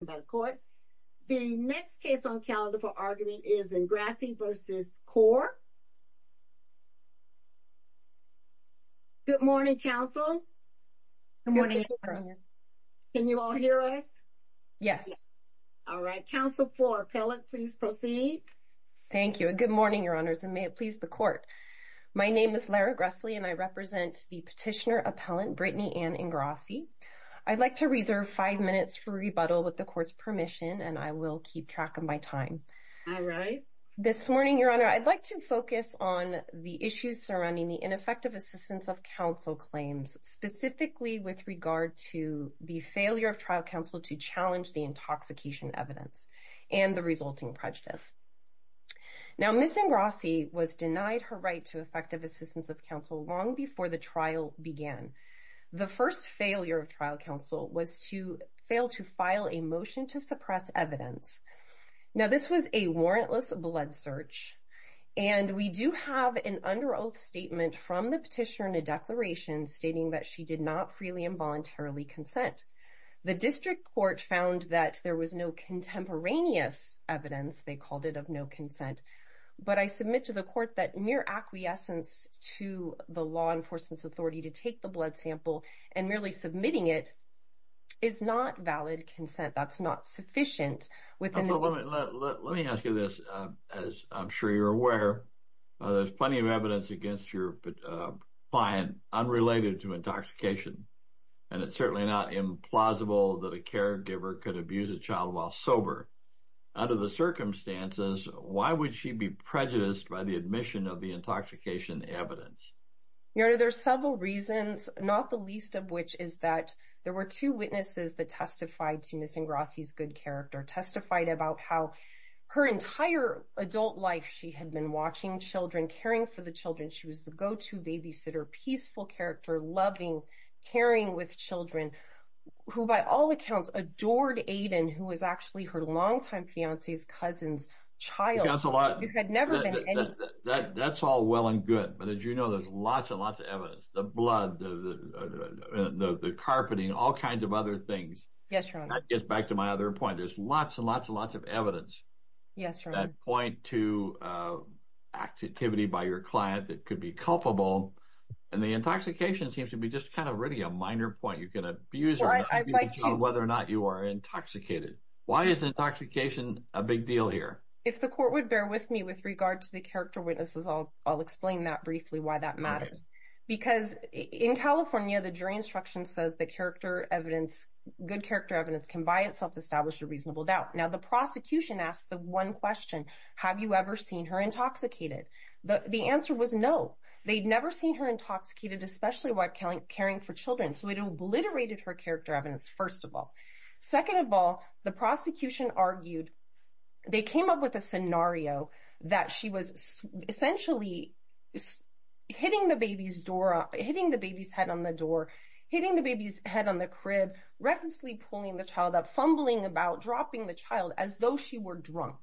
Good morning, Your Honors, and may it please the Court. My name is Lara Gressley, and I represent the petitioner-appellant Brittany Ann Ingrassi. I'd like to reserve five minutes for rebuttal with the Court's permission, and I will keep track of my time. This morning, Your Honor, I'd like to focus on the issues surrounding the ineffective assistance of counsel claims, specifically with regard to the failure of trial counsel to challenge the intoxication evidence and the resulting prejudice. Now Ms. Ingrassi was denied her right to effective assistance of counsel long before the trial began. The first failure of trial counsel was to fail to file a motion to suppress evidence. Now this was a warrantless blood search, and we do have an under oath statement from the petitioner in a declaration stating that she did not freely and voluntarily consent. The district court found that there was no contemporaneous evidence, they called it of no consent, but I submit to the court that mere acquiescence to the law enforcement's authority to take the blood sample and merely submitting it is not valid consent, that's not sufficient. Let me ask you this, as I'm sure you're aware, there's plenty of evidence against your client unrelated to intoxication, and it's certainly not implausible that a caregiver could abuse a child while sober. Under the circumstances, why would she be prejudiced by the admission of the intoxication evidence? Your Honor, there's several reasons, not the least of which is that there were two witnesses that testified to Ms. Ingrassi's good character, testified about how her entire adult life she had been watching children, caring for the children, she was the go-to babysitter, peaceful character, loving, caring with children, who by all accounts adored Aiden, who was actually her longtime fiancé's cousin's child. That's all well and good, but as you know, there's lots and lots of evidence, the blood, the carpeting, all kinds of other things. Yes, Your Honor. That gets back to my other point, there's lots and lots and lots of evidence that point to activity by your client that could be culpable, and the intoxication seems to be just kind of really a minor point. You can abuse a child whether or not you are intoxicated. Why is intoxication a big deal here? If the court would bear with me with regard to the character witnesses, I'll explain that briefly why that matters. Because in California, the jury instruction says the character evidence, good character evidence can by itself establish a reasonable doubt. Now the prosecution asked the one question, have you ever seen her intoxicated? The answer was no, they'd never seen her intoxicated, especially while caring for children. So it obliterated her character evidence, first of all. Second of all, the prosecution argued, they came up with a scenario that she was essentially hitting the baby's door up, hitting the baby's head on the door, hitting the baby's head on the crib, recklessly pulling the child up, fumbling about, dropping the child as though she were drunk.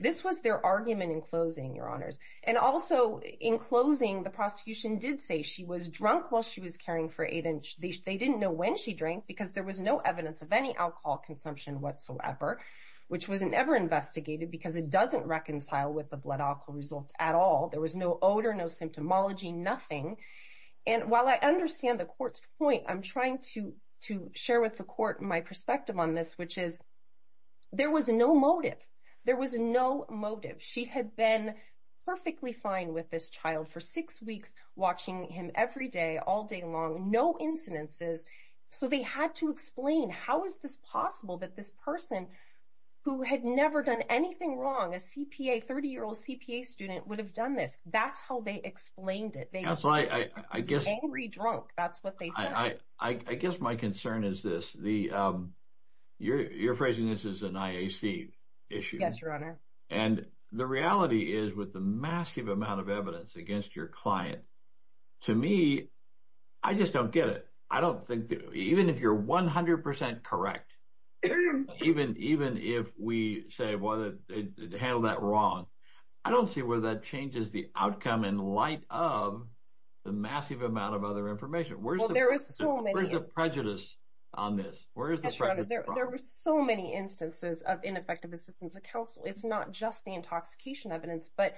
This was their argument in closing, Your Honors. And also in closing, the prosecution did say she was drunk while she was caring for Aiden. They didn't know when she drank because there was no evidence of any alcohol consumption whatsoever, which was never investigated because it doesn't reconcile with the blood alcohol results at all. There was no odor, no symptomology, nothing. And while I understand the court's point, I'm trying to share with the court my perspective on this, which is there was no motive. There was no motive. She had been perfectly fine with this child for six weeks, watching him every day, all day long, no incidences. So they had to explain, how is this possible that this person who had never done anything wrong, a CPA, 30-year-old CPA student, would have done this? That's how they explained it, angry drunk, that's what they said. I guess my concern is this, you're phrasing this as an IAC issue. Yes, Your Honor. And the reality is, with the massive amount of evidence against your client, to me, I just don't get it. I don't think, even if you're 100% correct, even if we say, well, they handled that wrong, I don't see where that changes the outcome in light of the massive amount of other information. Where's the prejudice on this? Where is the prejudice? There were so many instances of ineffective assistance of counsel. It's not just the intoxication evidence, but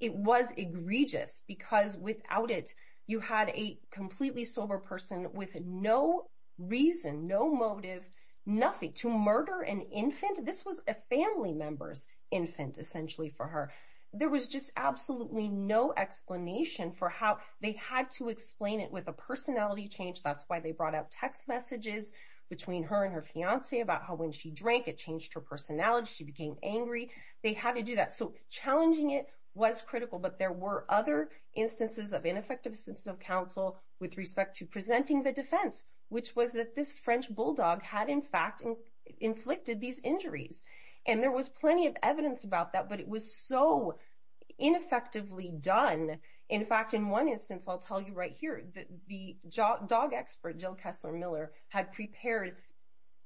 it was egregious because without it, you had a completely sober person with no reason, no motive, nothing, to murder an infant? This was a family member's infant, essentially, for her. There was just absolutely no explanation for how they had to explain it with a personality change. That's why they brought up text messages between her and her fiancé about how when she drank, it changed her personality, she became angry. They had to do that. So, challenging it was critical, but there were other instances of ineffective assistance of counsel with respect to presenting the defense, which was that this French bulldog had, in fact, inflicted these injuries. And there was plenty of evidence about that, but it was so ineffectively done. In fact, in one instance, I'll tell you right here, the dog expert, Jill Kessler Miller, had prepared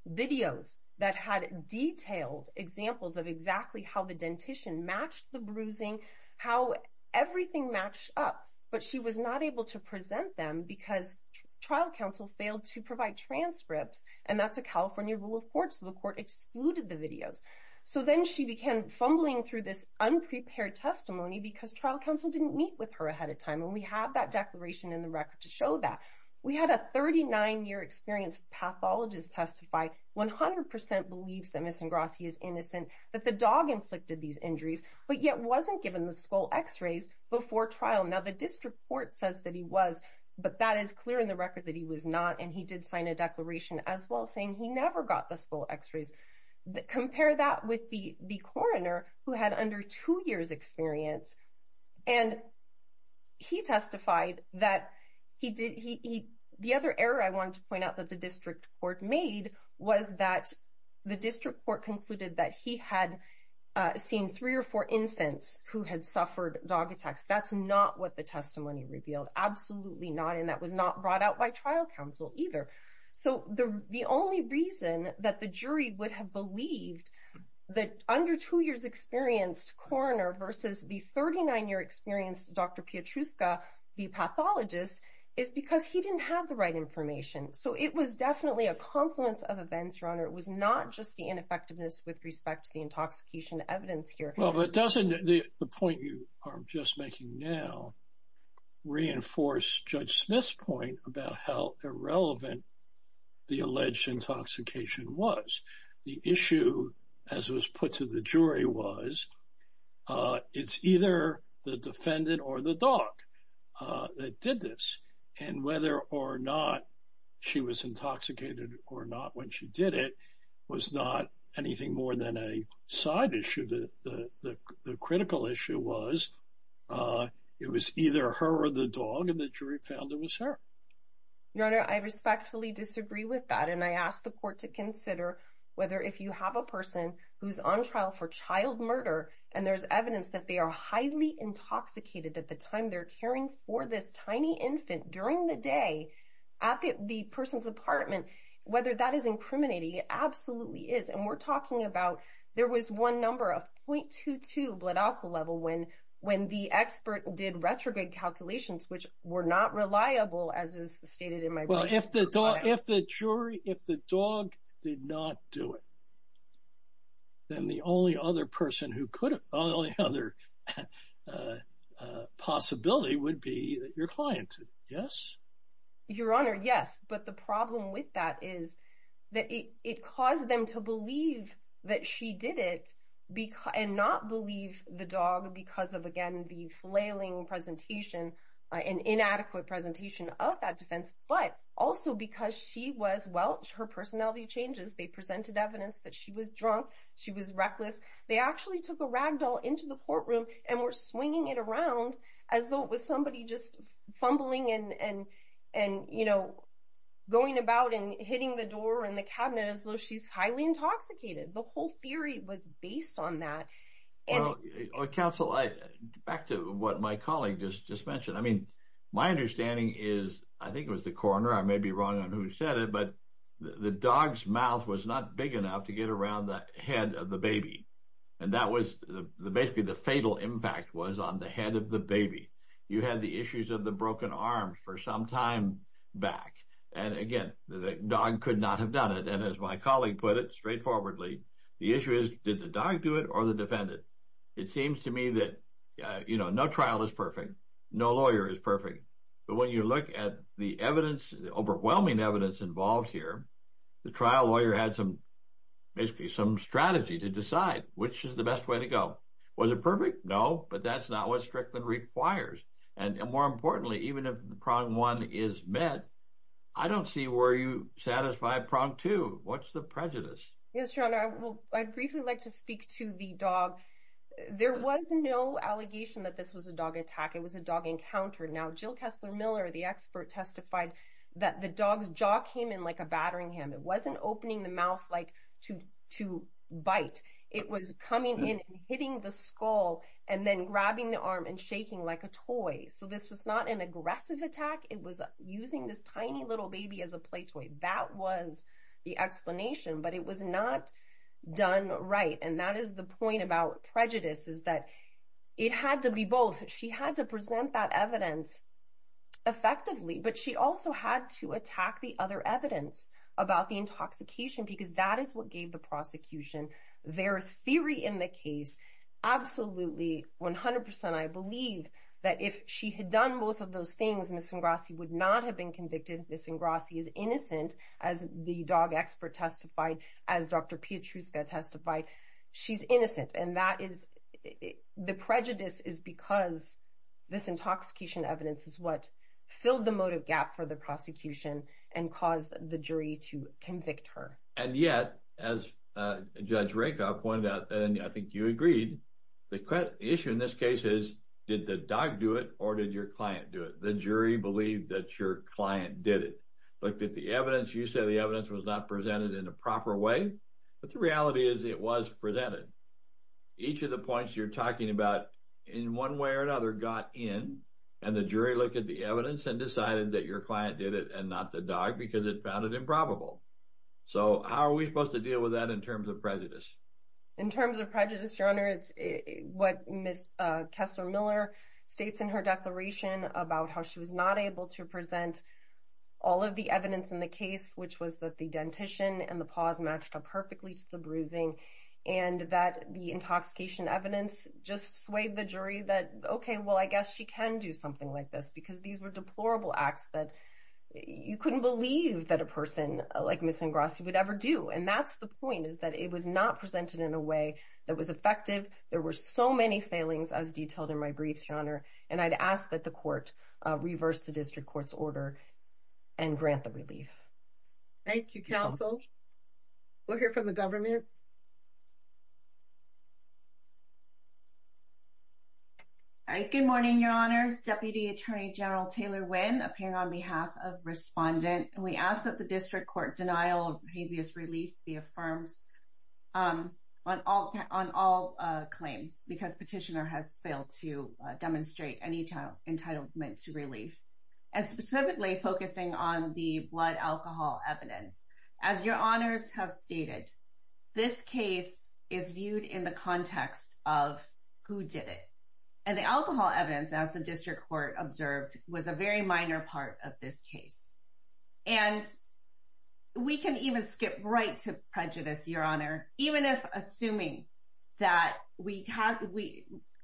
videos that had detailed examples of exactly how the dentition matched the bruising, how everything matched up, but she was not able to present them because trial counsel failed to provide transcripts, and that's a California rule of court, so the court excluded the videos. So, then she began fumbling through this unprepared testimony because trial counsel didn't meet with her ahead of time, and we have that declaration in the record to show that. We had a 39-year-experienced pathologist testify, 100% believes that Ms. Ingrassi is innocent, that the dog inflicted these injuries, but yet wasn't given the skull x-rays before trial. Now, the district court says that he was, but that is clear in the record that he was not, and he did sign a declaration as well saying he never got the skull x-rays. Compare that with the coroner who had under two years' experience, and he testified that he did, the other error I wanted to point out that the district court made was that the district court concluded that he had seen three or four infants who had suffered dog attacks. That's not what the testimony revealed, absolutely not, and that was not brought out by trial counsel either. So, the only reason that the jury would have believed that under two years' experience coroner versus the 39-year-experienced Dr. Pietruska, the pathologist, is because he didn't have the right information. So, it was definitely a confluence of events, Your Honor. It was not just the ineffectiveness with respect to the intoxication evidence here. Well, but doesn't the point you are just making now reinforce Judge Smith's point about how irrelevant the alleged intoxication was? The issue, as was put to the jury, was it's either the defendant or the dog that did this, and whether or not she was intoxicated or not when she did it was not anything more than a side issue. The critical issue was it was either her or the dog, and the jury found it was her. Your Honor, I respectfully disagree with that, and I ask the court to consider whether if you have a person who's on trial for child murder and there's evidence that they are highly intoxicated at the time they're caring for this tiny infant during the day at the person's apartment, whether that is incriminating, it absolutely is. And we're talking about there was one number of 0.22 blood alcohol level when the expert did retrograde calculations, which were not reliable as is stated in my- Well, if the dog did not do it, then the only other possibility would be that your client did. Yes? Your Honor, yes. But the problem with that is that it caused them to believe that she did it and not believe the dog because of, again, the flailing presentation, an inadequate presentation of that defense, but also because she was, well, her personality changes. They presented evidence that she was drunk, she was reckless. They actually took a rag doll into the courtroom and were swinging it around as though it was somebody just fumbling and going about and hitting the door and the cabinet as though she's highly intoxicated. The whole theory was based on that. Well, counsel, back to what my colleague just mentioned. I mean, my understanding is, I think it was the coroner, I may be wrong on who said it, but the dog's mouth was not big enough to get around the head of the baby. And that was basically the fatal impact was on the head of the baby. You had the issues of the broken arm for some time back. And again, the dog could not have done it. And as my colleague put it straightforwardly, the issue is, did the dog do it or the It seems to me that, you know, no trial is perfect. No lawyer is perfect. But when you look at the evidence, the overwhelming evidence involved here, the trial lawyer had some basically some strategy to decide which is the best way to go. Was it perfect? No, but that's not what Strickland requires. And more importantly, even if the prong one is met, I don't see where you satisfy prong two. What's the prejudice? Yes, your honor, I briefly like to speak to the dog. There was no allegation that this was a dog attack. It was a dog encounter. Now, Jill Kessler Miller, the expert testified that the dog's jaw came in like a battering him. It wasn't opening the mouth like to to bite. It was coming in, hitting the skull and then grabbing the arm and shaking like a toy. So this was not an aggressive attack. It was using this tiny little baby as a play toy. That was the explanation. But it was not done right. And that is the point about prejudice is that it had to be both. She had to present that evidence effectively, but she also had to attack the other evidence about the intoxication because that is what gave the prosecution their theory in the case. Absolutely. One hundred percent. I believe that if she had done both of those things, Miss Ingrassi would not have been convicted. Miss Ingrassi is innocent, as the dog expert testified, as Dr. Pietruszka testified. She's innocent. And that is the prejudice is because this intoxication evidence is what filled the motive gap for the prosecution and caused the jury to convict her. And yet, as Judge Rakoff pointed out, and I think you agreed, the issue in this case is did the dog do it or did your client do it? The jury believed that your client did it. Looked at the evidence. You said the evidence was not presented in a proper way. But the reality is it was presented. Each of the points you're talking about in one way or another got in and the jury looked at the evidence and decided that your client did it and not the dog because it found it improbable. So how are we supposed to deal with that in terms of prejudice? In terms of prejudice, Your Honor, it's what Miss Kessler-Miller states in her declaration about how she was not able to present all of the evidence in the case, which was that the dentition and the paws matched up perfectly to the bruising and that the intoxication evidence just swayed the jury that, okay, well, I guess she can do something like this because these were deplorable acts that you couldn't believe that a person like Miss Ingrassi would ever do. And that's the point is that it was not presented in a way that was effective. There were so many failings as detailed in my briefs, Your Honor. And I'd ask that the court reverse the district court's order and grant the relief. Thank you, counsel. We'll hear from the government. All right. Good morning, Your Honors. Deputy Attorney General Taylor Wynn appearing on behalf of Respondent. We ask that the district court denial of habeas relief be affirmed on all claims because petitioner has failed to demonstrate any entitlement to relief and specifically focusing on the blood alcohol evidence. As Your Honors have stated, this case is viewed in the context of who did it. And the alcohol evidence, as the district court observed, was a very minor part of this case. And we can even skip right to prejudice, Your Honor. Even if assuming that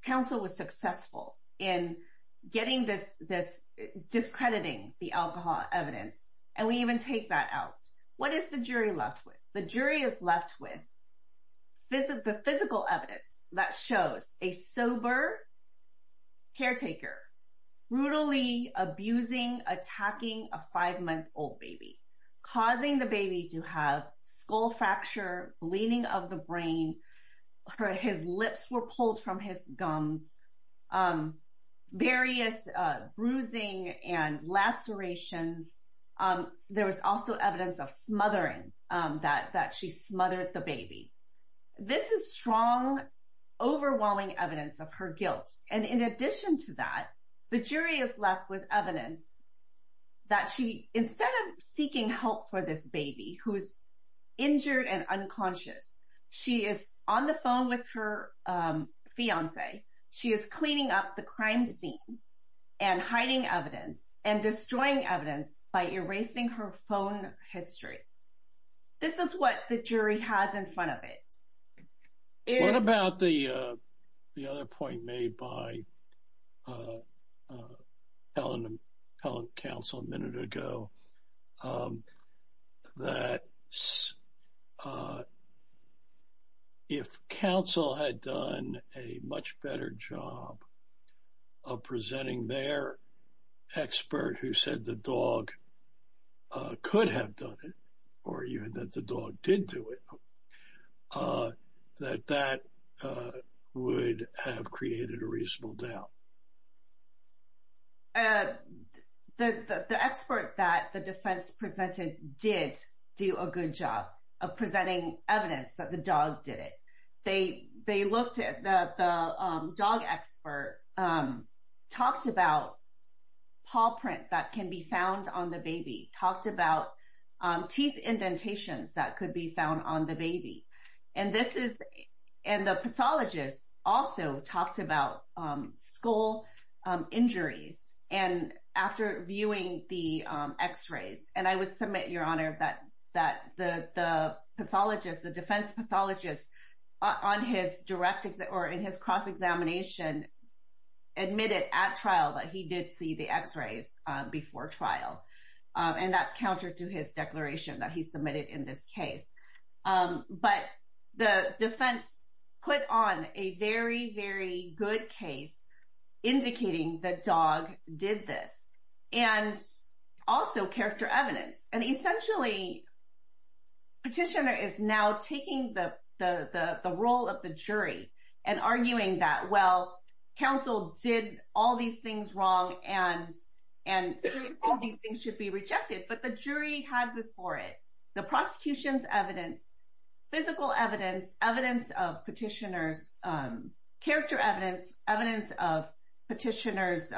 counsel was successful in getting this discrediting the alcohol evidence and we even take that out, what is the jury left with? The jury is left with the physical evidence that shows a sober caretaker, brutally abusing, attacking a five-month-old baby, causing the baby to have skull fracture, bleeding of the brain, his lips were pulled from his gums, various bruising and lacerations. There was also evidence of smothering, that she smothered the baby. This is strong, overwhelming evidence of her guilt. And in addition to that, the jury is left with evidence that she, instead of seeking help for this baby who's injured and unconscious, she is on the phone with her fiance. She is cleaning up the crime scene and hiding evidence and destroying evidence by erasing her phone history. This is what the jury has in front of it. What about the other point made by Helen and counsel a minute ago, that if counsel had done a much better job of presenting their expert who said the dog could have done it, or even that the dog did do it, that that would have created a reasonable doubt? The expert that the defense presented did do a good job of presenting evidence that the dog did it. They looked at the dog expert, talked about paw print that can be found on the baby, talked about teeth indentations that could be found on the baby. And the pathologist also talked about skull injuries. And after viewing the x-rays, and I would submit, Your Honor, that the pathologist, the defense pathologist on his direct or in his cross-examination admitted at trial that he did see the x-rays before trial. And that's counter to his declaration that he submitted in this case. But the defense put on a very, very good case indicating the dog did this. And also character evidence. And essentially, petitioner is now taking the role of the jury and arguing that, well, counsel did all these things wrong, and all these things should be rejected. But the jury had before it the prosecution's evidence, physical evidence, evidence of petitioner's character evidence, evidence of petitioner's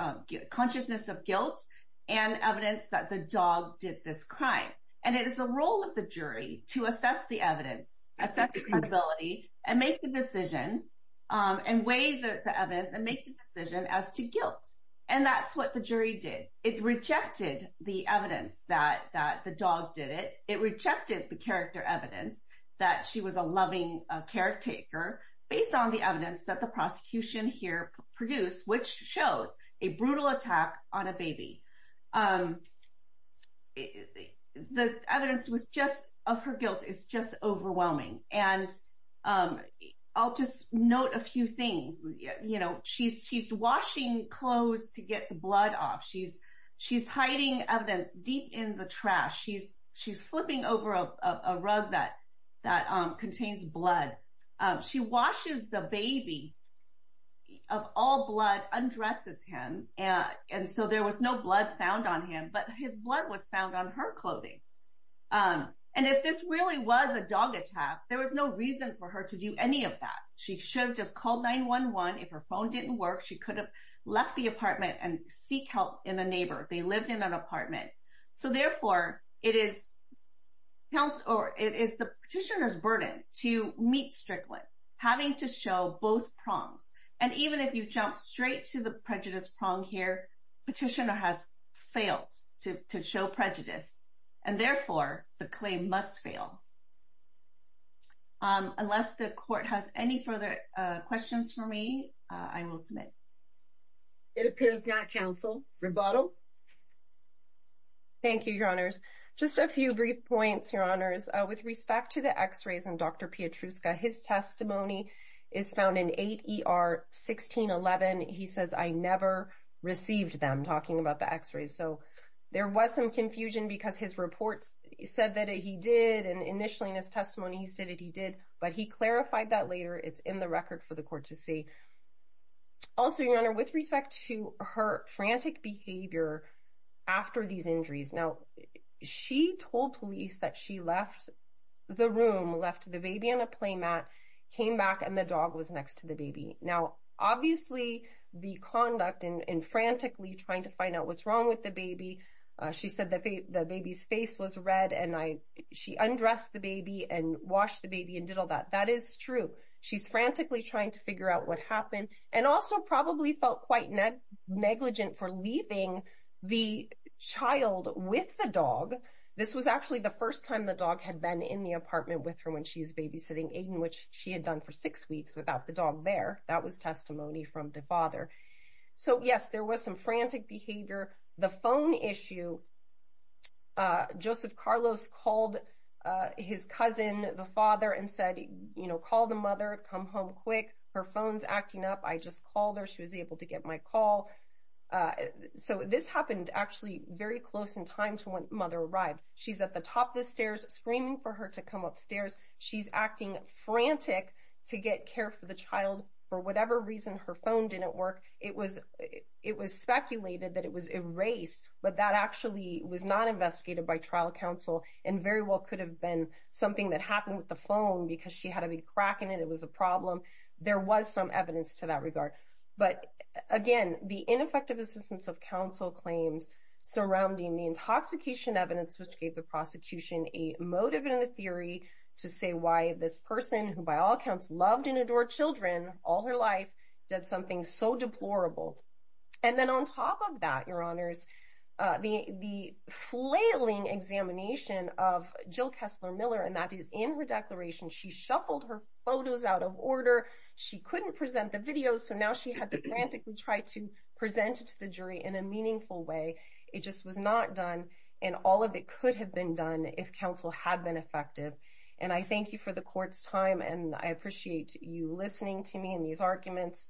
consciousness of guilt, and evidence that the dog did this crime. And it is the role of the jury to assess the evidence, assess the credibility, and make the decision and weigh the evidence and make the decision as to guilt. And that's what the jury did. It rejected the evidence that the dog did it. It rejected the character evidence that she was a loving caretaker based on the evidence that the prosecution here produced, which shows a brutal attack on a baby. The evidence of her guilt is just overwhelming. And I'll just note a few things. She's washing clothes to get blood off. She's hiding evidence deep in the trash. She's flipping over a rug that contains blood. She washes the baby of all blood, undresses him. And so there was no blood found on him, but his blood was found on her clothing. And if this really was a dog attack, there was no reason for her to do any of that. She should have just called 911. If her phone didn't work, she could have left the apartment and seek help in a neighbor. They lived in an apartment. So, therefore, it is the petitioner's burden to meet Strickland, having to show both prongs. And even if you jump straight to the prejudice prong here, the petitioner has failed to show prejudice, and therefore the claim must fail. Unless the court has any further questions for me, I will submit. It appears not, counsel. Rebuttal? Thank you, Your Honors. Just a few brief points, Your Honors. With respect to the x-rays and Dr. Pietruszka, his testimony is found in 8 ER 1611. He says, I never received them, talking about the x-rays. So there was some confusion because his reports said that he did. And initially in his testimony, he said that he did. But he clarified that later. It's in the record for the court to see. Also, Your Honor, with respect to her frantic behavior after these injuries. Now, she told police that she left the room, left the baby on a playmat, came back, and the dog was next to the baby. Now, obviously, the conduct in frantically trying to find out what's wrong with the baby, she said that the baby's face was red, and she undressed the baby and washed the baby and did all that. That is true. She's frantically trying to figure out what happened and also probably felt quite negligent for leaving the child with the dog. This was actually the first time the dog had been in the apartment with her when she was babysitting Aiden, which she had done for six weeks without the dog there. That was testimony from the father. So yes, there was some frantic behavior. The phone issue, Joseph Carlos called his cousin, the father, and said, you know, call the mother, come home quick. Her phone's acting up. I just called her. She was able to get my call. So this happened actually very close in time to when mother arrived. She's at the top of the stairs screaming for her to come upstairs. She's acting frantic to get care for the child. For whatever reason, her phone didn't work. It was speculated that it was erased, but that actually was not investigated by trial counsel and very well could have been something that happened with the phone because she had a crack in it, it was a problem. There was some evidence to that regard. But again, the ineffective assistance of counsel claims surrounding the intoxication evidence which gave the prosecution a motive and a theory to say why this person, who by all accounts loved and adored children all her life, did something so deplorable. And then on top of that, your honors, the flailing examination of Jill Kessler Miller, and that is in her declaration, she shuffled her photos out of order. She couldn't present the videos. So now she had to frantically try to present it to the jury in a meaningful way. It just was not done. And all of it could have been done if counsel had been effective. And I thank you for the court's time. And I appreciate you listening to me in these arguments.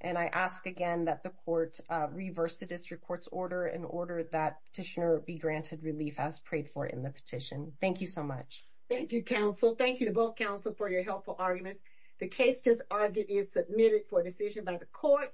And I ask again that the court reverse the district court's order in order that petitioner be granted relief as prayed for in the petition. Thank you so much. Thank you, counsel. Thank you to both counsel for your helpful arguments. The case just argued is submitted for decision by the court.